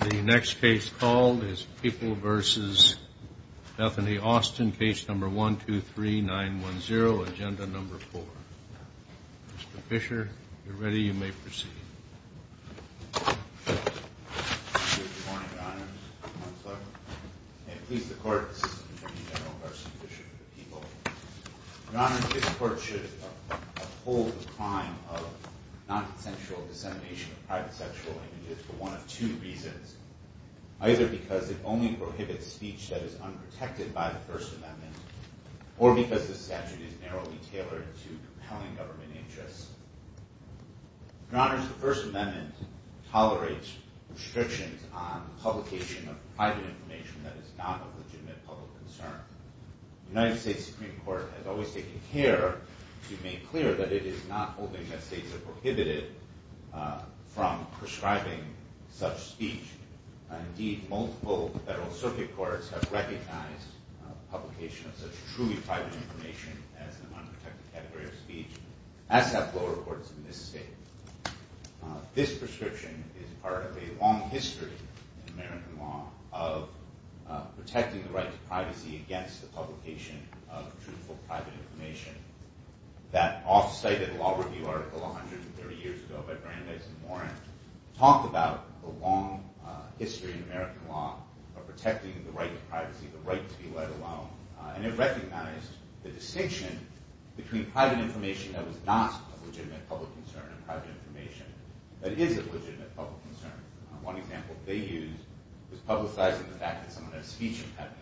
The next case called is People v. Bethany Austin, Case No. 123910, Agenda No. 4. Mr. Fisher, if you're ready, you may proceed. Good morning, Your Honor. I'm Mark Fleck. I please the Court, Assistant Attorney General Carson Fisher, for the People. Your Honor, this Court should uphold the crime of nonsensical dissemination of private sexual images for one of two reasons. Either because it only prohibits speech that is unprotected by the First Amendment, or because the statute is narrowly tailored to compelling government interests. Your Honor, the First Amendment tolerates restrictions on publication of private information that is not of legitimate public concern. The United States Supreme Court has always taken care to make clear that it is not holding that states are prohibited from prescribing such speech. Indeed, multiple federal circuit courts have recognized publication of such truly private information as an unprotected category of speech. As have lower courts in this state. This prescription is part of a long history in American law of protecting the right to privacy against the publication of truthful private information. That oft-cited law review article 130 years ago by Brandeis and Warren talked about the long history in American law of protecting the right to privacy, the right to be let alone. And it recognized the distinction between private information that was not of legitimate public concern and private information that is of legitimate public concern. One example they used was publicizing the fact that someone had a speech impediment.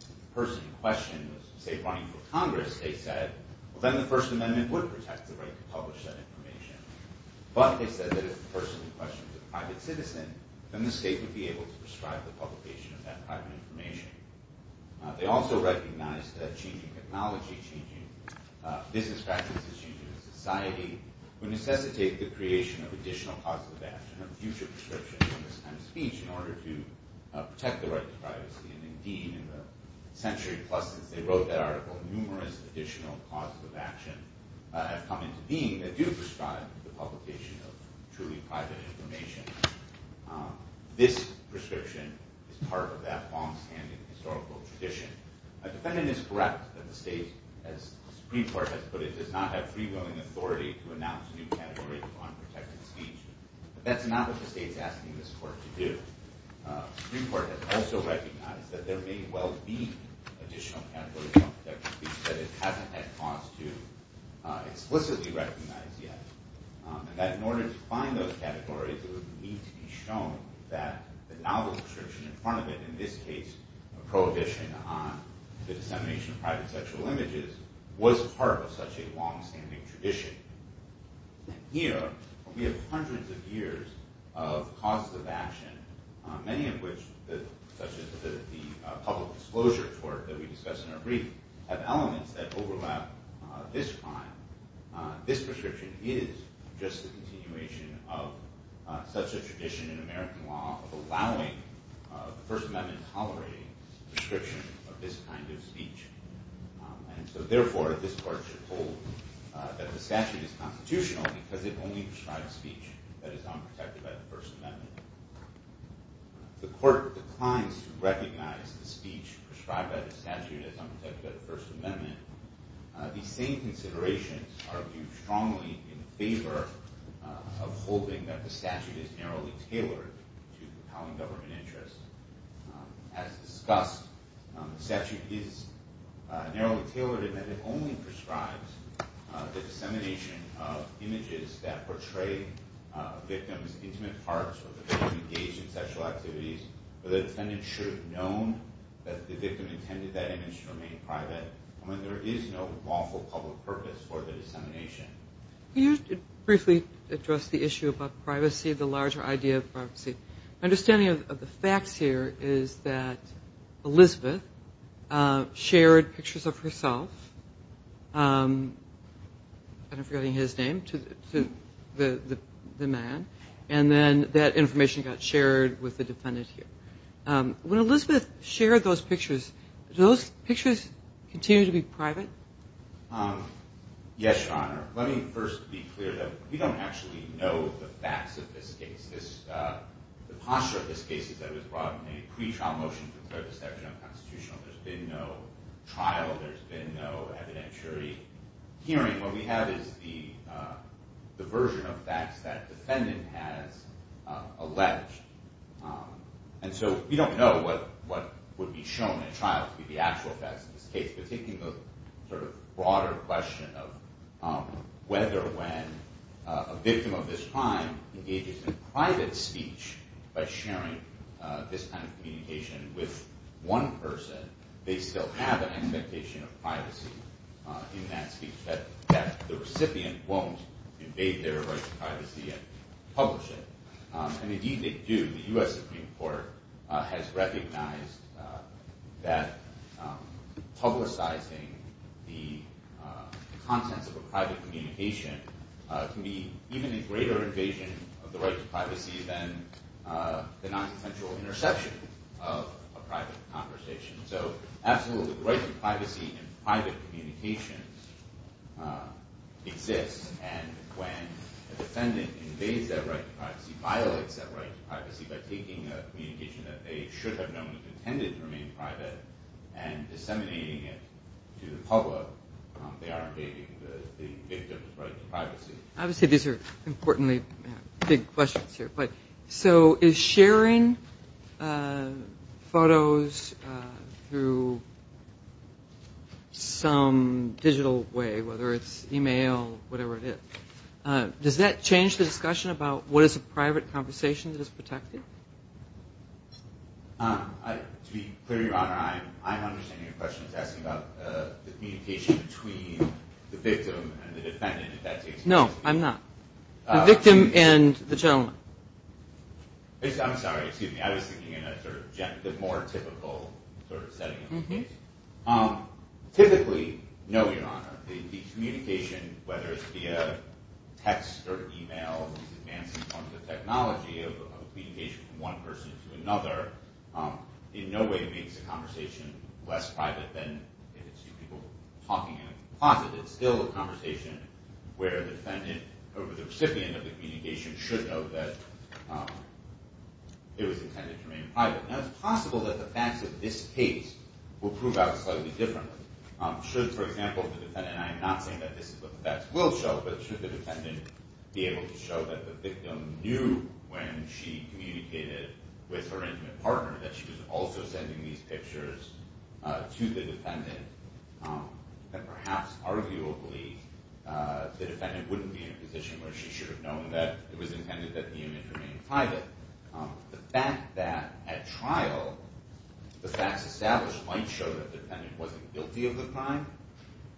If the person in question was, say, running for Congress, they said, well, then the First Amendment would protect the right to publish that information. But they said that if the person in question was a private citizen, then the state would be able to prescribe the publication of that private information. They also recognized that changing technology, changing business practices, changing society would necessitate the creation of additional causes of action of future prescriptions on this kind of speech in order to protect the right to privacy. And indeed, in the century plus since they wrote that article, numerous additional causes of action have come into being that do prescribe the publication of truly private information. This prescription is part of that longstanding historical tradition. A defendant is correct that the state, as the Supreme Court has put it, does not have free-willing authority to announce new categories of unprotected speech. But that's not what the state's asking this court to do. The Supreme Court has also recognized that there may well be additional categories of unprotected speech that it hasn't had cause to explicitly recognize yet. And that in order to find those categories, it would need to be shown that the novel prescription in front of it, in this case a prohibition on the dissemination of private sexual images, was part of such a longstanding tradition. Here, we have hundreds of years of causes of action, many of which, such as the public disclosure court that we discussed in our brief, have elements that overlap this crime. This prescription is just a continuation of such a tradition in American law of allowing the First Amendment-tolerating prescription of this kind of speech. And so therefore, this court should hold that the statute is constitutional because it only prescribes speech that is unprotected by the First Amendment. The court declines to recognize the speech prescribed by the statute as unprotected by the First Amendment. These same considerations are viewed strongly in favor of holding that the statute is narrowly tailored to compelling government interests. As discussed, the statute is narrowly tailored in that it only prescribes the dissemination of images that portray a victim's intimate parts or the victim engaged in sexual activities. The defendant should have known that the victim intended that image to remain private when there is no lawful public purpose for the dissemination. Can you briefly address the issue about privacy, the larger idea of privacy? My understanding of the facts here is that Elizabeth shared pictures of herself, and I'm forgetting his name, to the man. And then that information got shared with the defendant here. When Elizabeth shared those pictures, do those pictures continue to be private? Yes, Your Honor. Let me first be clear that we don't actually know the facts of this case. The posture of this case is that it was brought in a pretrial motion to declare the statute unconstitutional. There's been no trial. There's been no evidentiary hearing. What we have is the version of facts that the defendant has alleged. And so we don't know what would be shown in a trial to be the actual facts of this case. But taking the sort of broader question of whether when a victim of this crime engages in private speech by sharing this kind of communication with one person, they still have an expectation of privacy in that speech, that the recipient won't invade their right to privacy and publish it. And indeed they do. The U.S. Supreme Court has recognized that publicizing the contents of a private communication can be even a greater invasion of the right to privacy than the nonessential interception of a private conversation. So absolutely, the right to privacy in private communications exists. And when a defendant invades that right to privacy, violates that right to privacy by taking a communication that they should have known was intended to remain private and disseminating it to the public, they are invading the victim's right to privacy. Obviously these are importantly big questions here. But so is sharing photos through some digital way, whether it's e-mail, whatever it is, does that change the discussion about what is a private conversation that is protected? To be clear, Your Honor, I'm understanding your question is asking about the communication between the victim and the defendant, if that takes place. No, I'm not. The victim and the gentleman. I'm sorry, excuse me. I was thinking in a sort of more typical sort of setting of the case. Typically, no, Your Honor, the communication, whether it's via text or e-mail, is advanced in terms of technology of communication from one person to another, in no way makes a conversation less private than if it's two people talking in a closet. It's still a conversation where the recipient of the communication should know that it was intended to remain private. Now it's possible that the facts of this case will prove out slightly differently. Should, for example, the defendant, and I am not saying that this is what the facts will show, but should the defendant be able to show that the victim knew when she communicated with her intimate partner that she was also sending these pictures to the defendant, that perhaps arguably the defendant wouldn't be in a position where she should have known that it was intended that the image remain private. The fact that at trial the facts established might show that the defendant wasn't guilty of the crime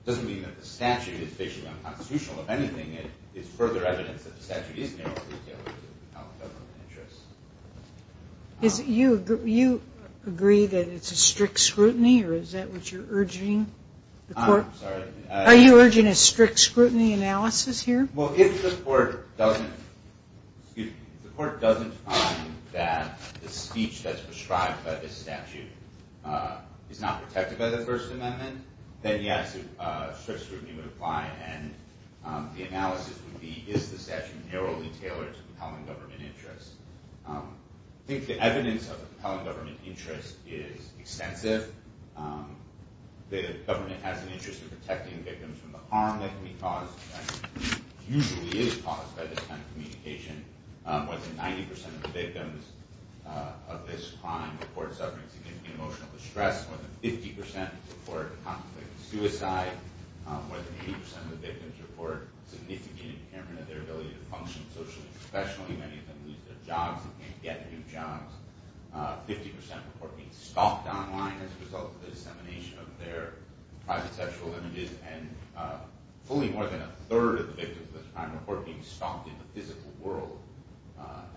doesn't mean that the statute is fictionally unconstitutional. If anything, it's further evidence that the statute is narrowly tailored to help government interests. Do you agree that it's a strict scrutiny, or is that what you're urging? I'm sorry. Are you urging a strict scrutiny analysis here? Well, if the court doesn't find that the speech that's prescribed by this statute is not protected by the First Amendment, then yes, a strict scrutiny would apply. And the analysis would be, is the statute narrowly tailored to the compelling government interest? I think the evidence of the compelling government interest is extensive. The government has an interest in protecting victims from the harm that can be caused, and usually is caused by this kind of communication. More than 90% of the victims of this crime report suffering significant emotional distress. More than 50% report conflict and suicide. More than 80% of the victims report significant impairment of their ability to function socially and professionally. Many of them lose their jobs and can't get new jobs. 50% report being stalked online as a result of the dissemination of their private sexual images. And fully more than a third of the victims of this crime report being stalked in the physical world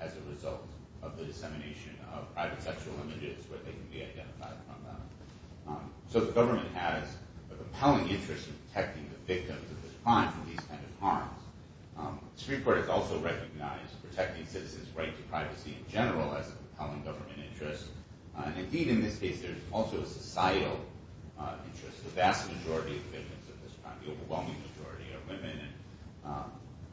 as a result of the dissemination of private sexual images where they can be identified from them. So the government has a compelling interest in protecting the victims of this crime from these kinds of harms. The Supreme Court has also recognized protecting citizens' right to privacy in general as a compelling government interest. And indeed, in this case, there's also a societal interest. The vast majority of victims of this crime, the overwhelming majority, are women.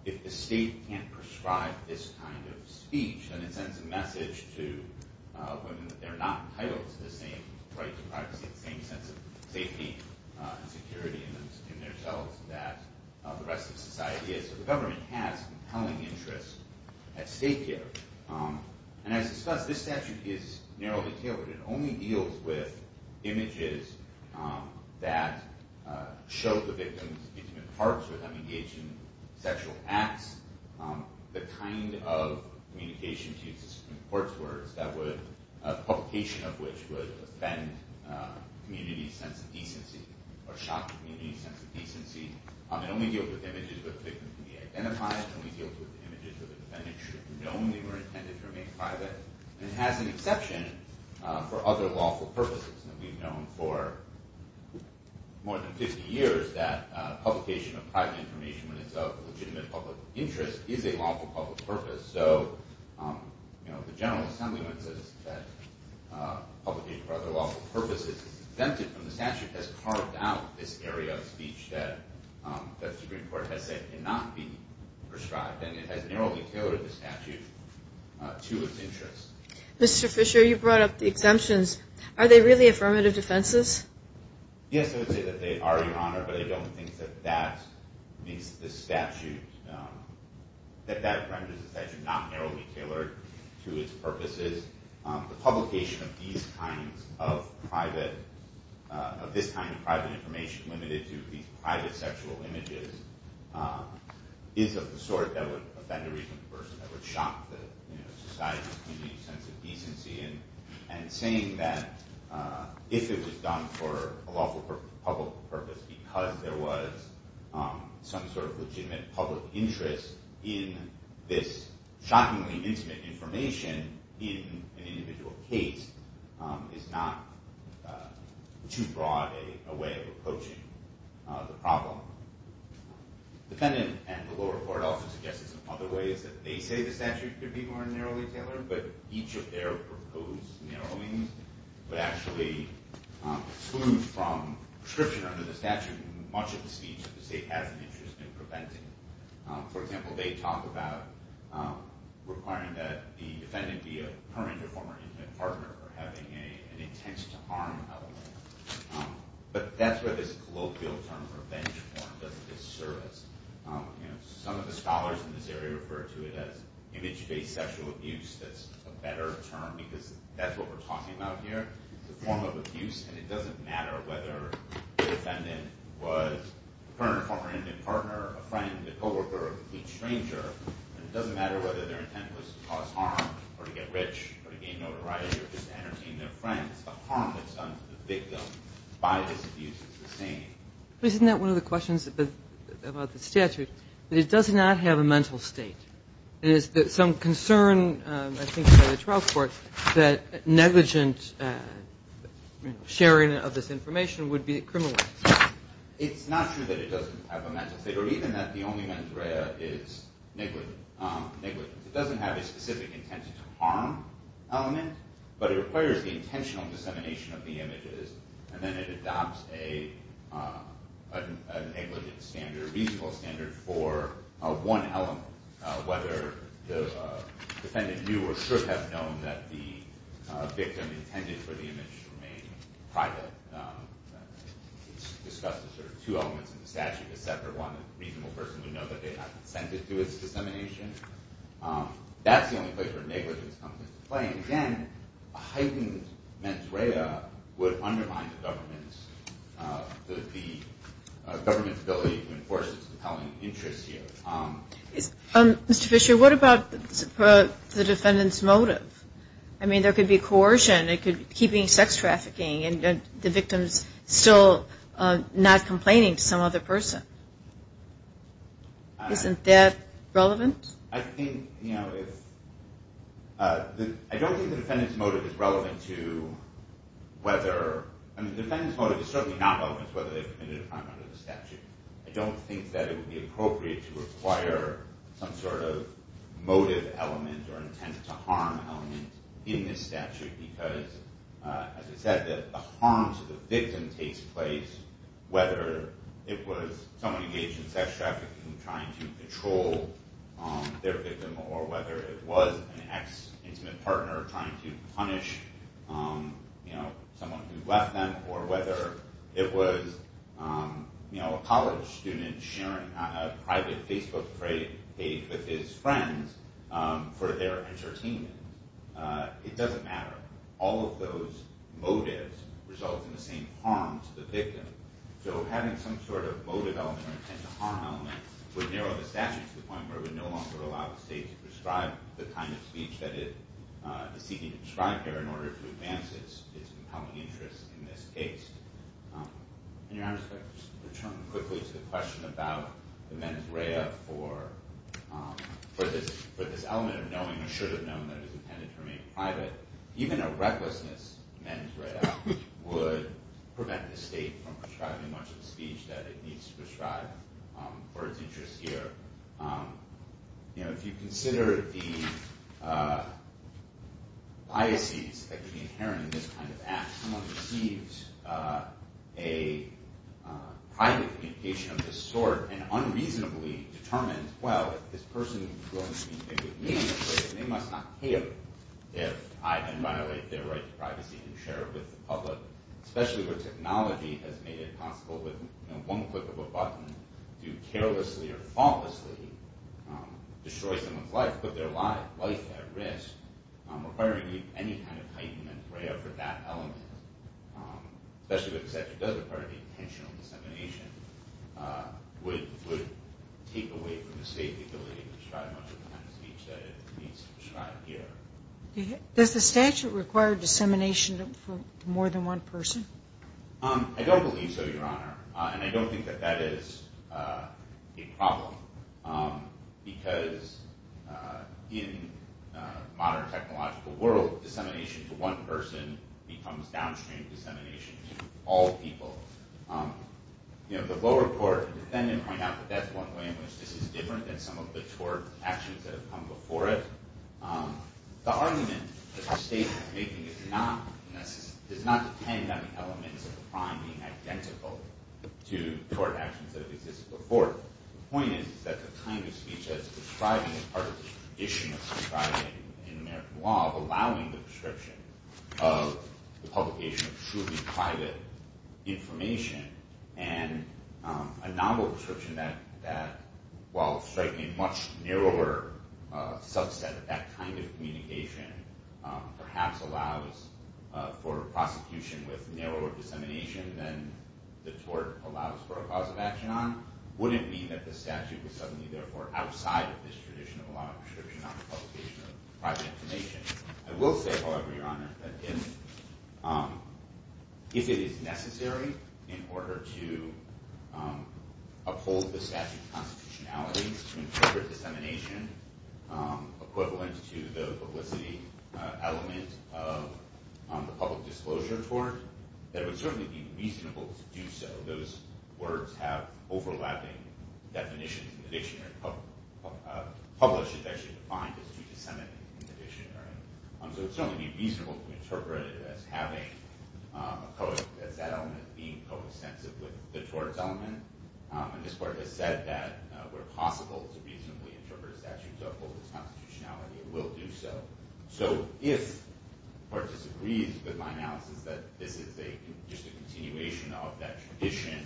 If the state can't prescribe this kind of speech, then it sends a message to women that they're not entitled to the same right to privacy, the same sense of safety and security in themselves that the rest of society is. So the government has compelling interest at stake here. And as discussed, this statute is narrowly tailored. It only deals with images that show the victim's intimate parts when they're engaged in sexual acts, the kind of communication, to use the Supreme Court's words, a publication of which would offend the community's sense of decency or shock the community's sense of decency. It only deals with images where the victim can be identified. It only deals with images where the defendant should have known they were intended to remain private. And it has an exception for other lawful purposes. We've known for more than 50 years that publication of private information when it's of legitimate public interest is a lawful public purpose. So the General Assembly, when it says that publication for other lawful purposes is exempted from the statute, has carved out this area of speech that the Supreme Court has said cannot be prescribed. And it has narrowly tailored the statute to its interests. Mr. Fisher, you brought up the exemptions. Are they really affirmative defenses? Yes, I would say that they are, Your Honor, but I don't think that that makes the statute, that that renders the statute not narrowly tailored to its purposes. The publication of these kinds of private, of this kind of private information, which is limited to these private sexual images, is of the sort that would offend a reasonable person, that would shock the society's community's sense of decency. And saying that if it was done for a lawful public purpose because there was some sort of legitimate public interest in this shockingly intimate information in an individual case is not too broad a way of approaching the problem. The defendant and the lower court also suggested some other ways that they say the statute could be more narrowly tailored, but each of their proposed narrowings would actually exclude from prescription under the statute much of the speech that the state has an interest in preventing. For example, they talk about requiring that the defendant be a current or former intimate partner, or having an intense to harm element. But that's where this colloquial term for bench form doesn't disservice. Some of the scholars in this area refer to it as image-based sexual abuse. That's a better term because that's what we're talking about here. It's a form of abuse, and it doesn't matter whether the defendant was a current or former intimate partner, a friend, a co-worker, a complete stranger. It doesn't matter whether their intent was to cause harm or to get rich or to gain notoriety or just to entertain their friends. The harm that's done to the victim by this abuse is the same. Isn't that one of the questions about the statute? It does not have a mental state. There is some concern, I think, by the trial court that negligent sharing of this information would be criminalized. It's not true that it doesn't have a mental state, or even that the only mental area is negligence. It doesn't have a specific intent to harm element, but it requires the intentional dissemination of the images, and then it adopts a negligent standard, a reasonable standard, for one element, whether the defendant knew or should have known that the victim intended for the image to remain private. It's discussed as sort of two elements in the statute, a separate one that a reasonable person would know that they had not consented to its dissemination. That's the only place where negligence comes into play. And, again, a heightened mens rea would undermine the government's ability to enforce its compelling interests here. Mr. Fisher, what about the defendant's motive? I mean, there could be coercion, it could be keeping sex trafficking, and the victim's still not complaining to some other person. Isn't that relevant? I don't think the defendant's motive is relevant to whether – I mean, the defendant's motive is certainly not relevant to whether they've committed a crime under the statute. I don't think that it would be appropriate to require some sort of motive element or intent to harm element in this statute, because, as I said, the harm to the victim takes place, whether it was someone engaged in sex trafficking trying to control their victim, or whether it was an ex-intimate partner trying to punish someone who left them, or whether it was a college student sharing a private Facebook page with his friends for their entertainment. It doesn't matter. All of those motives result in the same harm to the victim. So having some sort of motive element or intent to harm element would narrow the statute to the point where it would no longer allow the state to prescribe the kind of speech that it is seeking to prescribe here in order to advance its compelling interests in this case. Your Honor, if I could just return quickly to the question about the mens rea for this element of knowing or should have known that it was intended to remain private. Even a recklessness mens rea would prevent the state from prescribing much of the speech that it needs to prescribe for its interests here. If you consider the biases that could be inherent in this kind of act, someone receives a private communication of this sort and unreasonably determines, well, if this person is willing to communicate with me in this way, then they must not hear if I then violate their right to privacy and share it with the public, especially where technology has made it possible with one click of a button to carelessly or faultlessly destroy someone's life, put their life at risk, requiring any kind of heightened mens rea for that element, especially if the statute does require any intentional dissemination, would take away from the state the ability to prescribe much of the kind of speech that it needs to prescribe here. Does the statute require dissemination for more than one person? I don't believe so, Your Honor, and I don't think that that is a problem because in the modern technological world, dissemination to one person becomes downstream dissemination to all people. The lower court and defendant point out that that's one way in which this is different than some of the tort actions that have come before it. The argument that the state is making does not depend on the elements of the crime being identical to tort actions that have existed before. The point is that the kind of speech that it's prescribing is part of the tradition of prescribing in American law, of allowing the prescription of the publication of truly private information and a novel description that, while striking a much narrower subset of that kind of communication, perhaps allows for prosecution with narrower dissemination than the tort allows for a cause of action on, wouldn't mean that the statute was suddenly, therefore, outside of this tradition of allowing prescription on the publication of private information. I will say, however, Your Honor, that if it is necessary in order to uphold the statute of constitutionality to incorporate dissemination equivalent to the publicity element of the public disclosure tort, that it would certainly be reasonable to do so. Those words have overlapping definitions in the dictionary. Publish is actually defined as to disseminate in the dictionary. So it would certainly be reasonable to interpret it as that element being coextensive with the tort element. And this Court has said that where possible to reasonably interpret a statute to uphold its constitutionality, it will do so. So if the Court disagrees with my analysis that this is just a continuation of that tradition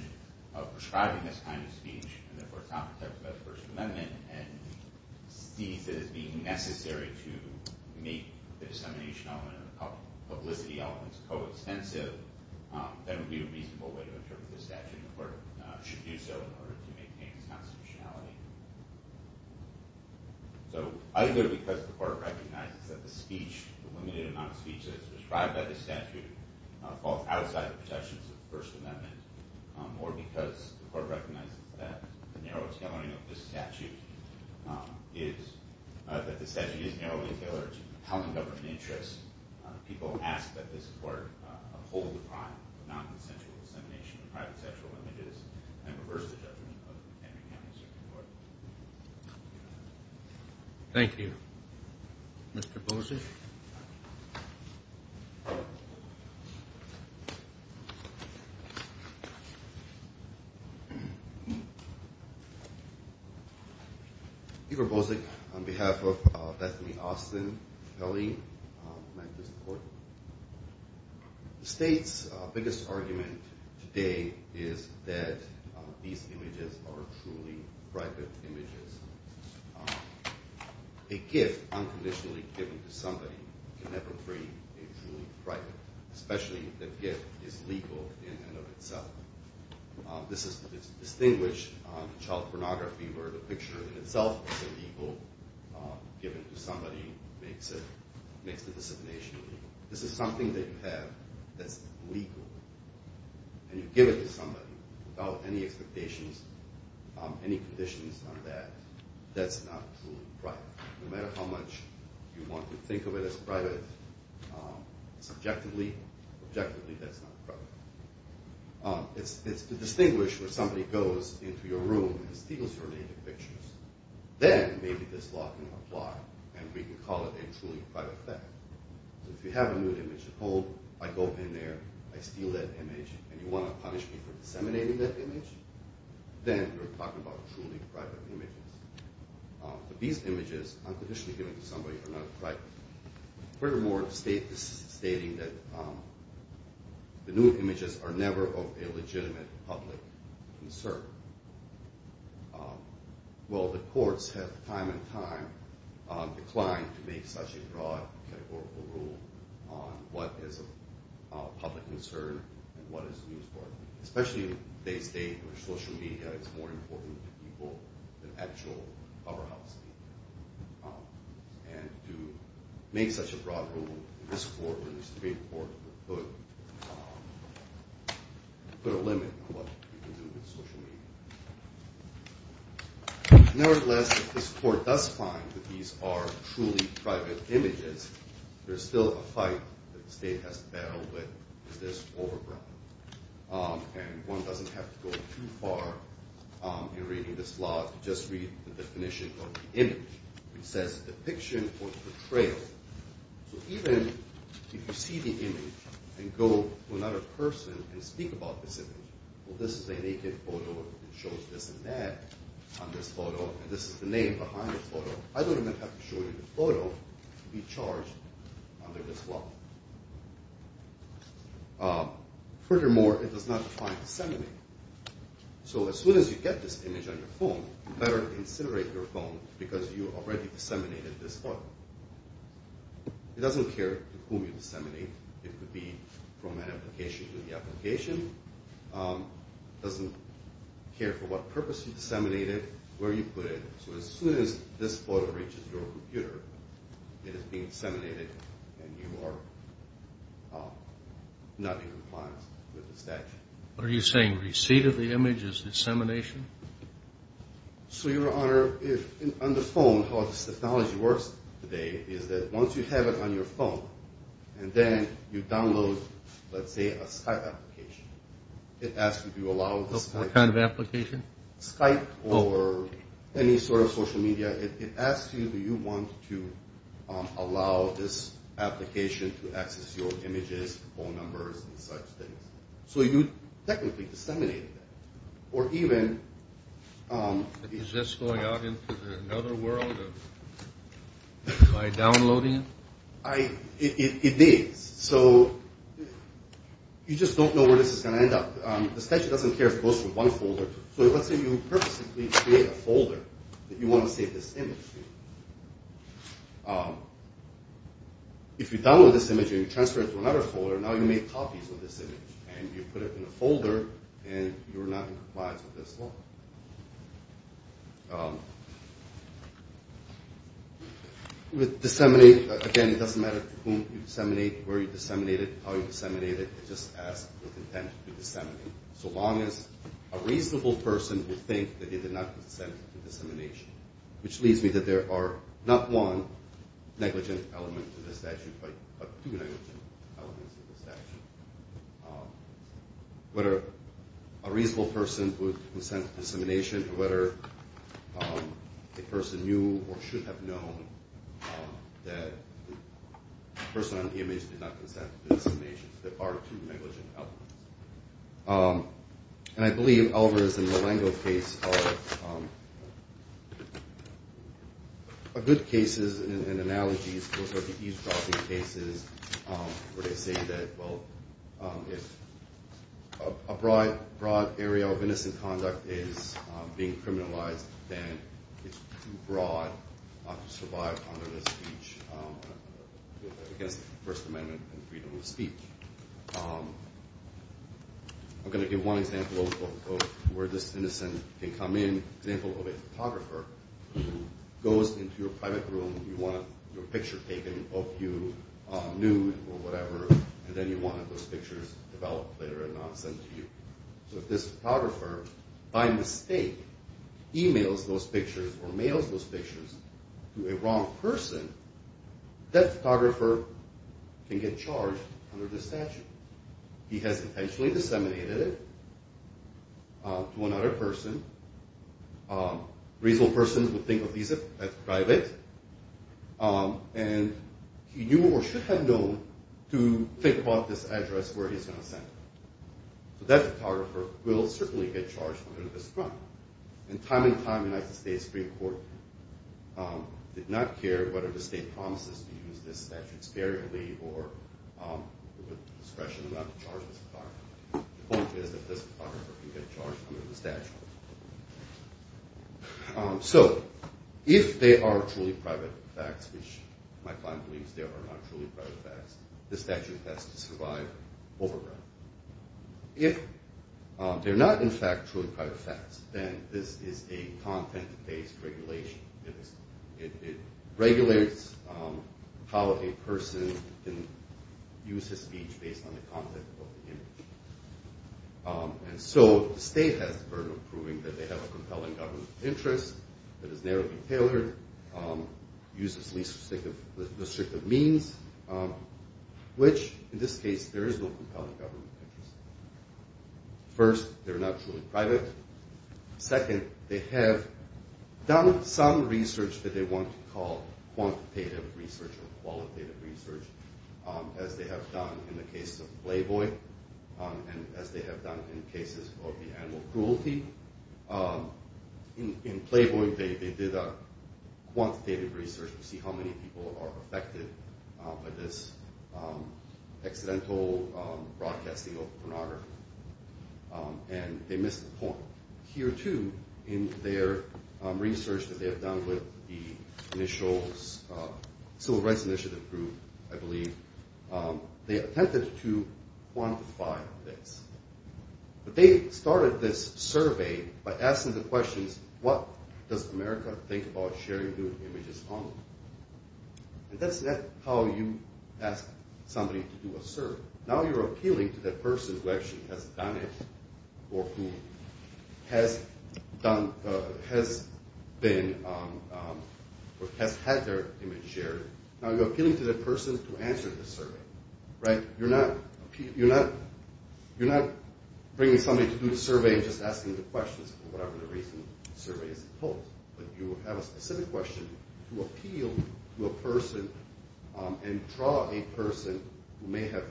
of prescribing this kind of speech and, therefore, it's not protected by the First Amendment and sees it as being necessary to make the dissemination element and the publicity elements coextensive, then it would be a reasonable way to interpret the statute. And the Court should do so in order to maintain its constitutionality. So either because the Court recognizes that the speech, the limited amount of speech that is prescribed by the statute, falls outside the protections of the First Amendment, or because the Court recognizes that the statute is narrowly tailored to compelling government interests, people ask that this Court uphold the crime of nonconsensual dissemination of private sexual images and reverse the judgment of Henry County Circuit Court. Thank you. Mr. Bullish? Thank you. On behalf of Bethany Austin, the State's biggest argument today is that these images are truly private images. A gift unconditionally given to somebody can never be truly private, especially if the gift is legal in and of itself. This is distinguished in child pornography where the picture in itself is illegal, given to somebody makes the dissemination illegal. This is something that you have that's legal, and you give it to somebody without any expectations, any conditions on that, that's not truly private. No matter how much you want to think of it as private subjectively, objectively that's not private. It's to distinguish where somebody goes into your room and steals your native pictures. Then maybe this law can apply, and we can call it a truly private theft. So if you have a nude image, and, oh, I go in there, I steal that image, then you're talking about truly private images. But these images unconditionally given to somebody are not private. Furthermore, the State is stating that the nude images are never of a legitimate public concern. Well, the courts have time and time declined to make such a broad categorical rule on what is a public concern and what is used for it, especially if they state that social media is more important to people than actual powerhouse media. And to make such a broad rule in this court or the Supreme Court would put a limit on what you can do with social media. Nevertheless, if this court does find that these are truly private images, there's still a fight that the State has to battle with, and it's this overgrowth. And one doesn't have to go too far in reading this law to just read the definition of the image. It says depiction or portrayal. So even if you see the image and go to another person and speak about this image, well, this is a naked photo that shows this and that on this photo, and this is the name behind the photo. I don't even have to show you the photo to be charged under this law. Furthermore, it does not define disseminate. So as soon as you get this image on your phone, you better considerate your phone because you already disseminated this photo. It doesn't care to whom you disseminate. It could be from an application to the application. It doesn't care for what purpose you disseminated, where you put it. So as soon as this photo reaches your computer, it is being disseminated and you are not in compliance with the statute. Are you saying receipt of the image is dissemination? So, Your Honor, on the phone, how this technology works today is that once you have it on your phone and then you download, let's say, a Skype application, it asks if you allow the Skype. What kind of application? Skype or any sort of social media. It asks you do you want to allow this application to access your images, phone numbers, and such things. So you technically disseminated that. Or even... Is this going out into another world by downloading it? It needs. So you just don't know where this is going to end up. The statute doesn't care if it goes to one folder. So let's say you purposely create a folder that you want to save this image to. If you download this image and you transfer it to another folder, now you made copies of this image and you put it in a folder and you are not in compliance with this law. With disseminate, again, it doesn't matter to whom you disseminate, where you disseminate it, how you disseminate it. It just asks for consent to disseminate. So long as a reasonable person would think that they did not consent to dissemination. Which leaves me that there are not one negligent element to the statute, but two negligent elements to the statute. Whether a reasonable person would consent to dissemination or whether a person knew or should have known that the person on the image did not consent to dissemination. There are two negligent elements. And I believe Alvarez and Malengo case are good cases and analogies for the eavesdropping cases where they say that, well, if a broad area of innocent conduct is being criminalized, then it's too broad to survive under the speech against the First Amendment and freedom of speech. I'm going to give one example of where this innocent can come in. An example of a photographer who goes into your private room, you want your picture taken of you nude or whatever, and then you want those pictures developed later and not sent to you. So if this photographer, by mistake, emails those pictures or mails those pictures to a wrong person, that photographer can get charged under the statute. He has intentionally disseminated it to another person. A reasonable person would think of these as private. And he knew or should have known to think about this address where he's going to send it. So that photographer will certainly get charged under this crime. And time and time, the United States Supreme Court did not care whether the state promises to use this statute sparingly or with discretion not to charge this photographer. The point is that this photographer can get charged under the statute. So if they are truly private facts, which my client believes they are not truly private facts, this statute has to survive overrun. If they're not, in fact, truly private facts, then this is a content-based regulation. It regulates how a person can use his speech based on the content of the image. And so the state has the burden of proving that they have a compelling government interest that is narrowly tailored, uses least restrictive means, which, in this case, there is no compelling government interest. First, they're not truly private. Second, they have done some research that they want to call quantitative research or qualitative research, as they have done in the case of Playboy and as they have done in cases of the animal cruelty. In Playboy, they did quantitative research to see how many people are affected by this accidental broadcasting of pornography. And they missed the point. Here, too, in their research that they have done with the initial Civil Rights Initiative group, I believe, they attempted to quantify this. But they started this survey by asking the questions, what does America think about sharing nude images online? And that's how you ask somebody to do a survey. Now you're appealing to that person who actually has done it or who has had their image shared. Now you're appealing to that person to answer the survey. You're not bringing somebody to do the survey and just asking the questions for whatever the reason the survey is posed. And draw a person who may have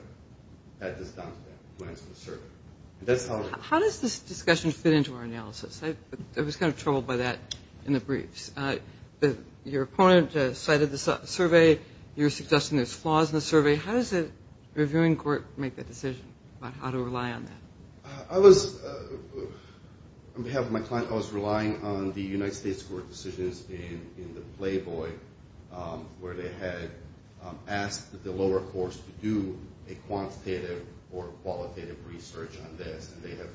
had this done to them to answer the survey. How does this discussion fit into our analysis? I was kind of troubled by that in the briefs. Your opponent cited the survey. You're suggesting there's flaws in the survey. How does a reviewing court make that decision about how to rely on that? On behalf of my client, I was relying on the United States court decisions in the Playboy where they had asked the lower courts to do a quantitative or qualitative research on this. And they have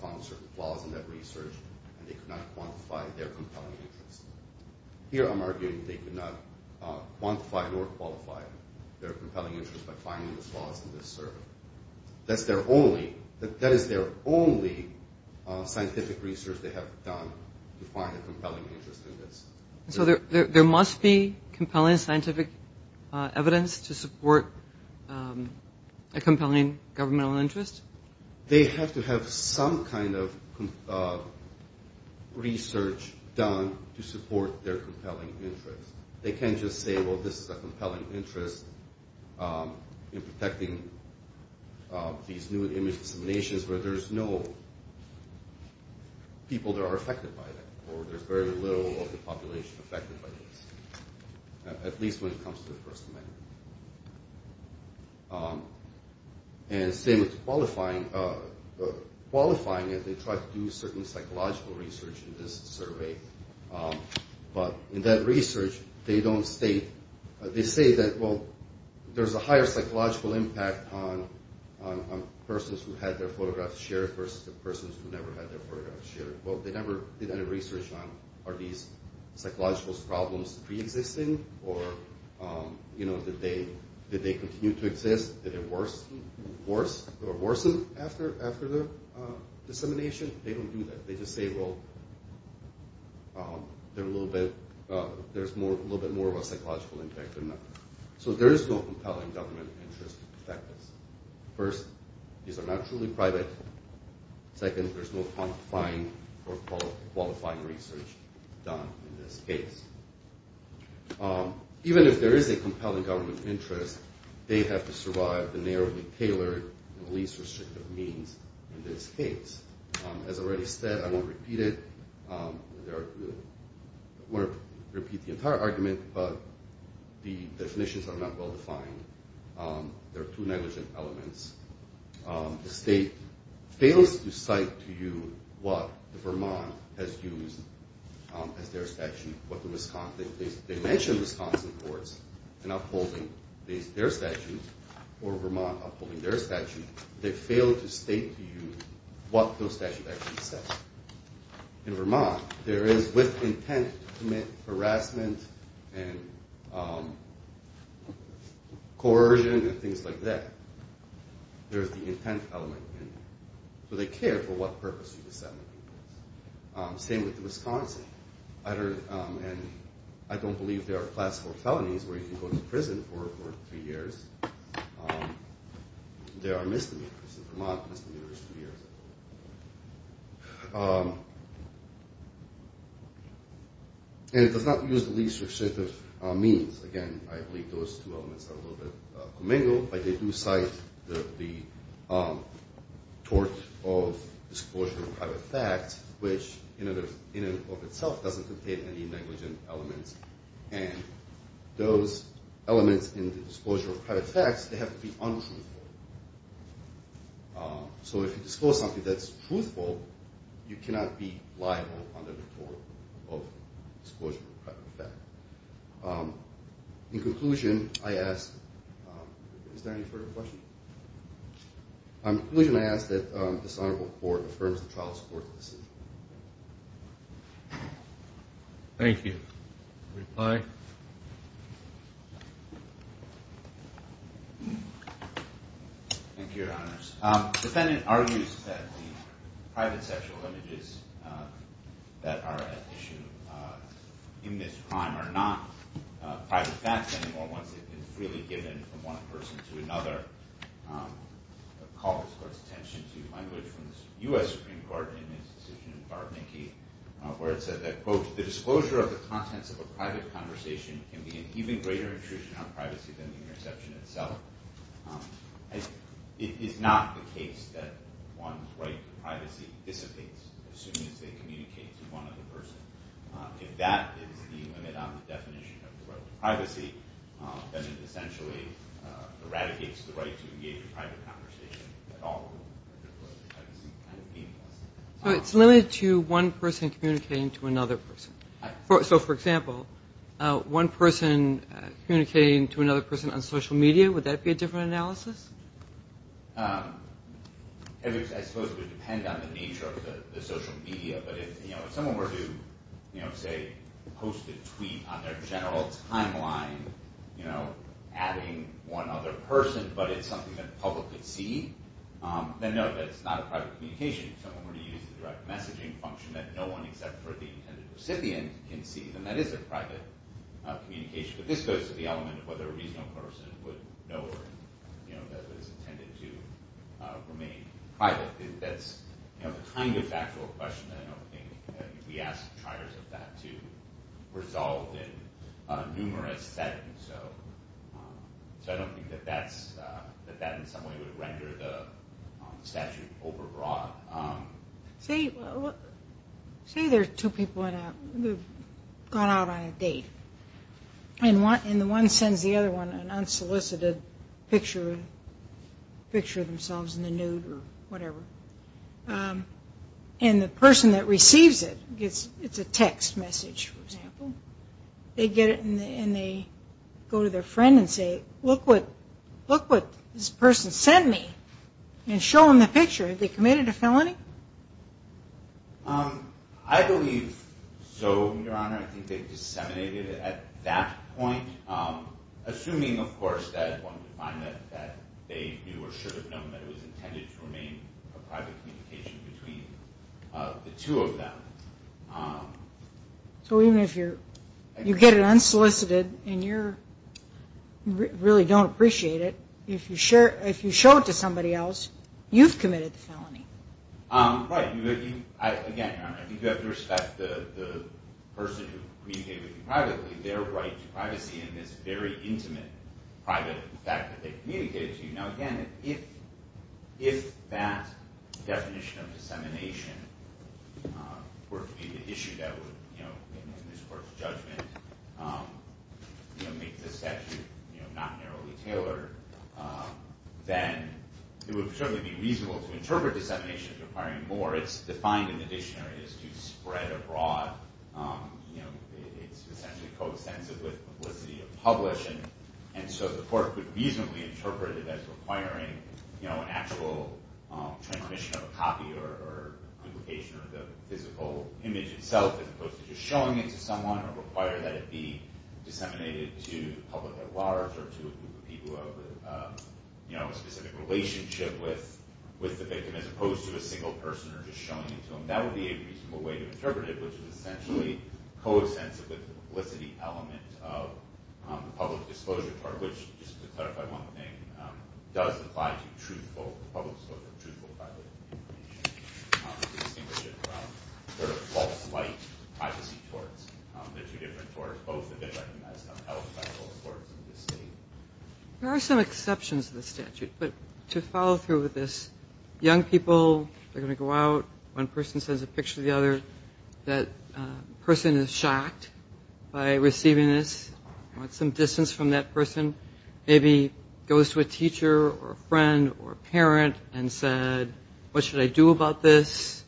found certain flaws in that research, and they could not quantify their compelling interest. Here I'm arguing they could not quantify nor qualify their compelling interest by finding the flaws in this survey. That is their only scientific research they have done to find a compelling interest in this. So there must be compelling scientific evidence to support a compelling governmental interest? They have to have some kind of research done to support their compelling interest. They can't just say, well, this is a compelling interest in protecting these new images of nations where there's no people that are affected by that, or there's very little of the population affected by this, at least when it comes to the First Amendment. And the same with qualifying it. They tried to do certain psychological research in this survey, but in that research they say that, well, there's a higher psychological impact on persons who had their photographs shared versus the persons who never had their photographs shared. Well, they never did any research on are these psychological problems preexisting, or did they continue to exist? Did it worsen after the dissemination? They don't do that. They just say, well, there's a little bit more of a psychological impact than that. So there is no compelling government interest to protect this. First, these are not truly private. Second, there's no quantifying or qualifying research done in this case. Even if there is a compelling government interest, they have to survive the narrowly tailored and least restrictive means in this case. As I already said, I won't repeat it. I won't repeat the entire argument, but the definitions are not well defined. There are two negligent elements. The state fails to cite to you what Vermont has used as their statute, what the Wisconsin, they mention Wisconsin courts in upholding their statute, or Vermont upholding their statute. And they fail to state to you what those statutes actually say. In Vermont, there is, with intent to commit harassment and coercion and things like that, there is the intent element in there. So they care for what purpose you disseminate this. Same with Wisconsin. I don't believe there are classical felonies where you can go to prison for three years. There are misdemeanors. In Vermont, misdemeanor is three years. And it does not use the least restrictive means. Again, I believe those two elements are a little bit commingled, but they do cite the tort of disclosure of private fact, which in and of itself doesn't contain any negligent elements. And those elements in the disclosure of private facts, they have to be untruthful. So if you disclose something that's truthful, you cannot be liable under the tort of disclosure of private fact. In conclusion, I ask, is there any further questions? In conclusion, I ask that this honorable court affirms the trial's court's decision. Thank you. Reply. Thank you, Your Honors. The defendant argues that the private sexual images that are at issue in this crime are not private facts anymore once they've been freely given from one person to another. I call this court's attention to language from the U.S. Supreme Court in its decision in Bar-Mickey, where it said that, quote, the disclosure of the contents of a private conversation can be an even greater intrusion on privacy than the interception itself. It is not the case that one's right to privacy dissipates as soon as they communicate to one other person. Then it essentially eradicates the right to engage in private conversation at all. So it's limited to one person communicating to another person. So, for example, one person communicating to another person on social media, would that be a different analysis? I suppose it would depend on the nature of the social media. But if someone were to, say, post a tweet on their general timeline adding one other person, but it's something that the public could see, then no, that's not a private communication. If someone were to use the direct messaging function that no one except for the intended recipient can see, then that is a private communication. But this goes to the element of whether a reasonable person would know that it's intended to remain private. I think that's the kind of factual question that I don't think we ask the triers of that to resolve in numerous settings. So I don't think that that, in some way, would render the statute overbroad. Say there are two people who have gone out on a date, and one sends the other one an unsolicited picture of themselves in the nude or whatever, and the person that receives it gets a text message, for example. They get it and they go to their friend and say, look what this person sent me, and show them the picture. Have they committed a felony? I believe so, Your Honor. I think they've disseminated it at that point, assuming, of course, that one would find that they knew or should have known that it was intended to remain a private communication between the two of them. So even if you get it unsolicited and you really don't appreciate it, if you show it to somebody else, you've committed the felony. Right. Again, Your Honor, I think you have to respect the person who communicated with you privately, their right to privacy, and this very intimate private fact that they communicated to you. Now, again, if that definition of dissemination were to be the issue that would, in this Court's judgment, make the statute not narrowly tailored, then it would certainly be reasonable to interpret dissemination as requiring more. It's defined in the dictionary as to spread abroad. It's essentially coextensive with publicity or publishing, and so the Court could reasonably interpret it as requiring an actual transmission of a copy or publication of the physical image itself as opposed to just showing it to someone or require that it be disseminated to the public at large or to a group of people who have a specific relationship with the victim as opposed to a single person or just showing it to them. That would be a reasonable way to interpret it, which is essentially coextensive with the publicity element of the public disclosure, which, just to clarify one thing, does apply to truthful public disclosure, truthful private information, to distinguish it from sort of false light privacy courts. They're two different courts. Both have been recognized on health by both courts in this State. There are some exceptions to the statute, but to follow through with this, young people are going to go out, one person sends a picture to the other, that person is shocked by receiving this, wants some distance from that person, maybe goes to a teacher or a friend or a parent and said, What should I do about this?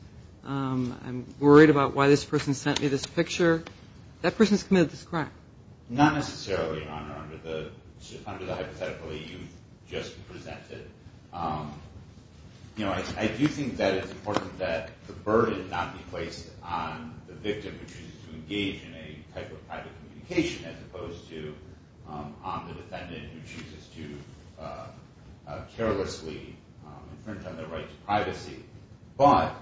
I'm worried about why this person sent me this picture. That person's committed this crime. Not necessarily, Your Honor, under the hypothetical that you just presented. I do think that it's important that the burden not be placed on the victim who chooses to engage in a type of private communication as opposed to on the defendant who chooses to carelessly infringe on their right to privacy. But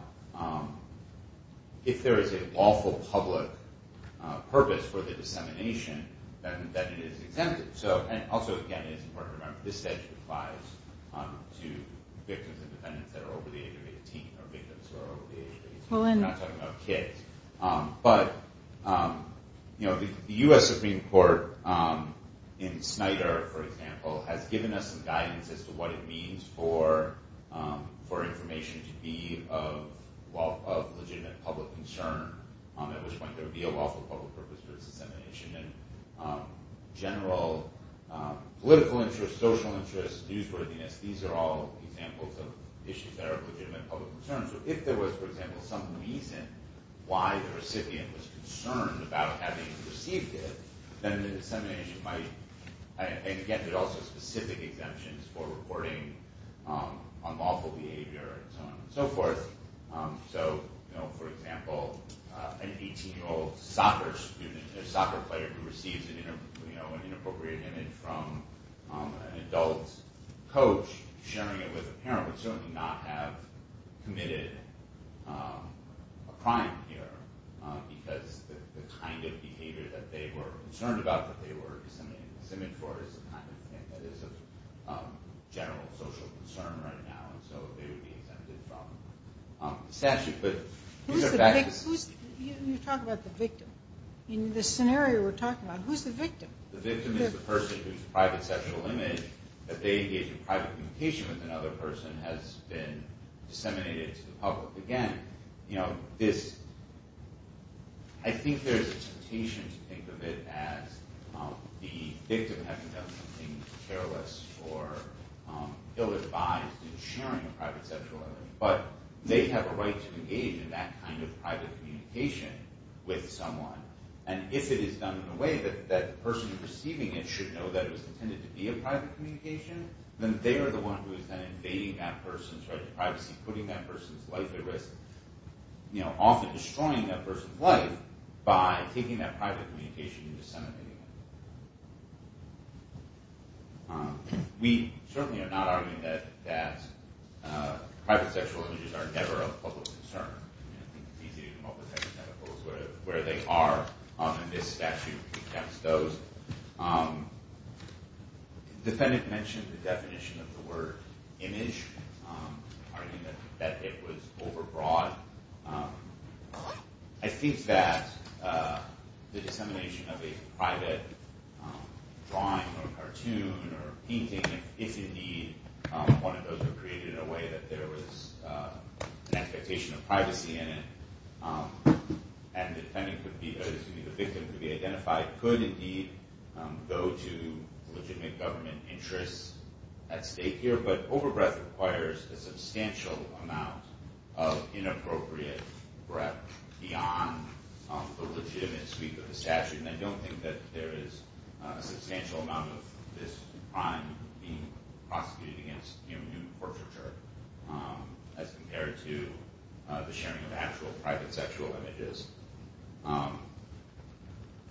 if there is a lawful public purpose for the dissemination, then it is exempted. And also, again, it's important to remember, this statute applies to victims and defendants that are over the age of 18 or victims who are over the age of 18. We're not talking about kids. But the U.S. Supreme Court in Snyder, for example, has given us some guidance as to what it means for information to be of legitimate public concern, at which point there would be a lawful public purpose for its dissemination. And general political interest, social interest, newsworthiness, these are all examples of issues that are of legitimate public concern. So if there was, for example, some reason why the recipient was concerned about having received it, then the dissemination might... And again, there are also specific exemptions for reporting unlawful behavior and so on and so forth. So, for example, an 18-year-old soccer player who receives an inappropriate image from an adult coach sharing it with a parent would certainly not have committed a crime here because the kind of behavior that they were concerned about, that they were disseminating this image for, is the kind of thing that is of general social concern right now. And so they would be exempted from the statute. But... Who's the victim? You're talking about the victim. In this scenario we're talking about, who's the victim? The victim is the person whose private sexual image that they engage in private communication with another person has been disseminated to the public. Again, you know, this... I think there's a temptation to think of it as the victim having done something careless or ill-advised in sharing a private sexual image. But they have a right to engage in that kind of private communication with someone. And if it is done in a way that the person receiving it should know that it was intended to be a private communication, then they are the one who is then invading that person's right to privacy, putting that person's life at risk, often destroying that person's life by taking that private communication and disseminating it. We certainly are not arguing that private sexual images are never a public concern. I think it's easy to come up with hypotheticals where they are. And this statute exempts those. The defendant mentioned the definition of the word image, arguing that it was overbroad. I think that the dissemination of a private drawing or cartoon or painting, if indeed one of those were created in a way that there was an expectation of privacy in it, and the victim could be identified, could indeed go to legitimate government interests at stake here. But overbreadth requires a substantial amount of inappropriate breadth beyond the legitimacy of the statute. And I don't think that there is a substantial amount of this crime being prosecuted against human-to-human portraiture as compared to the sharing of actual private sexual images.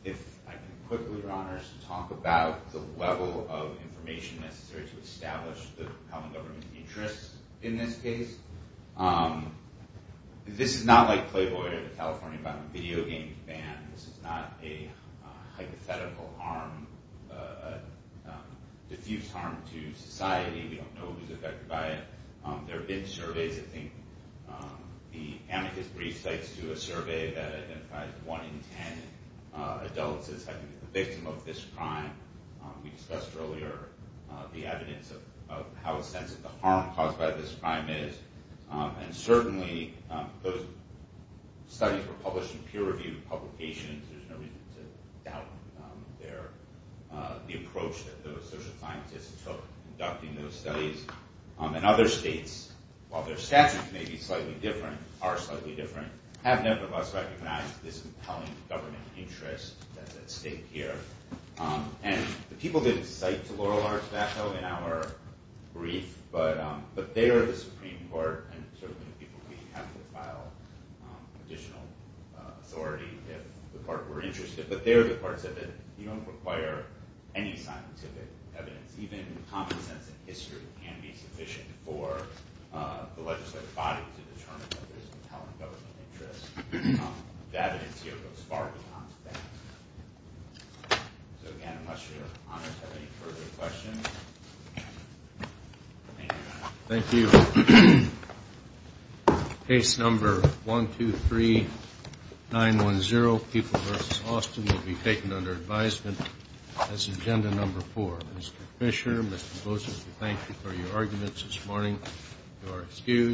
If I could quickly, Your Honors, talk about the level of information necessary to establish the compelling government interests in this case. This is not like Playboy or the California Video Game Ban. This is not a hypothetical harm, a diffuse harm to society. We don't know who's affected by it. There have been surveys. I think the amicus brief cites to a survey that identifies one in ten adults as having been the victim of this crime. We discussed earlier the evidence of how extensive the harm caused by this crime is. And certainly those studies were published in peer-reviewed publications. There's no reason to doubt the approach that those social scientists took in conducting those studies. And other states, while their statutes may be slightly different, are slightly different, have nevertheless recognized this compelling government interest that's at stake here. And the people that cite to Laurel Arsenault in our brief, but they are the Supreme Court, and certainly the people we have to file additional authority if the court were interested, but they are the courts that require any scientific evidence. Even common sense and history can be sufficient for the legislative body to determine that there's a compelling government interest. The evidence here goes far beyond that. So, again, unless your honors have any further questions. Thank you, Your Honor. Thank you. Case number 123910, People v. Austin, will be taken under advisement as agenda number four. Mr. Fischer, Mr. Gosar, thank you for your arguments this morning. You are excused.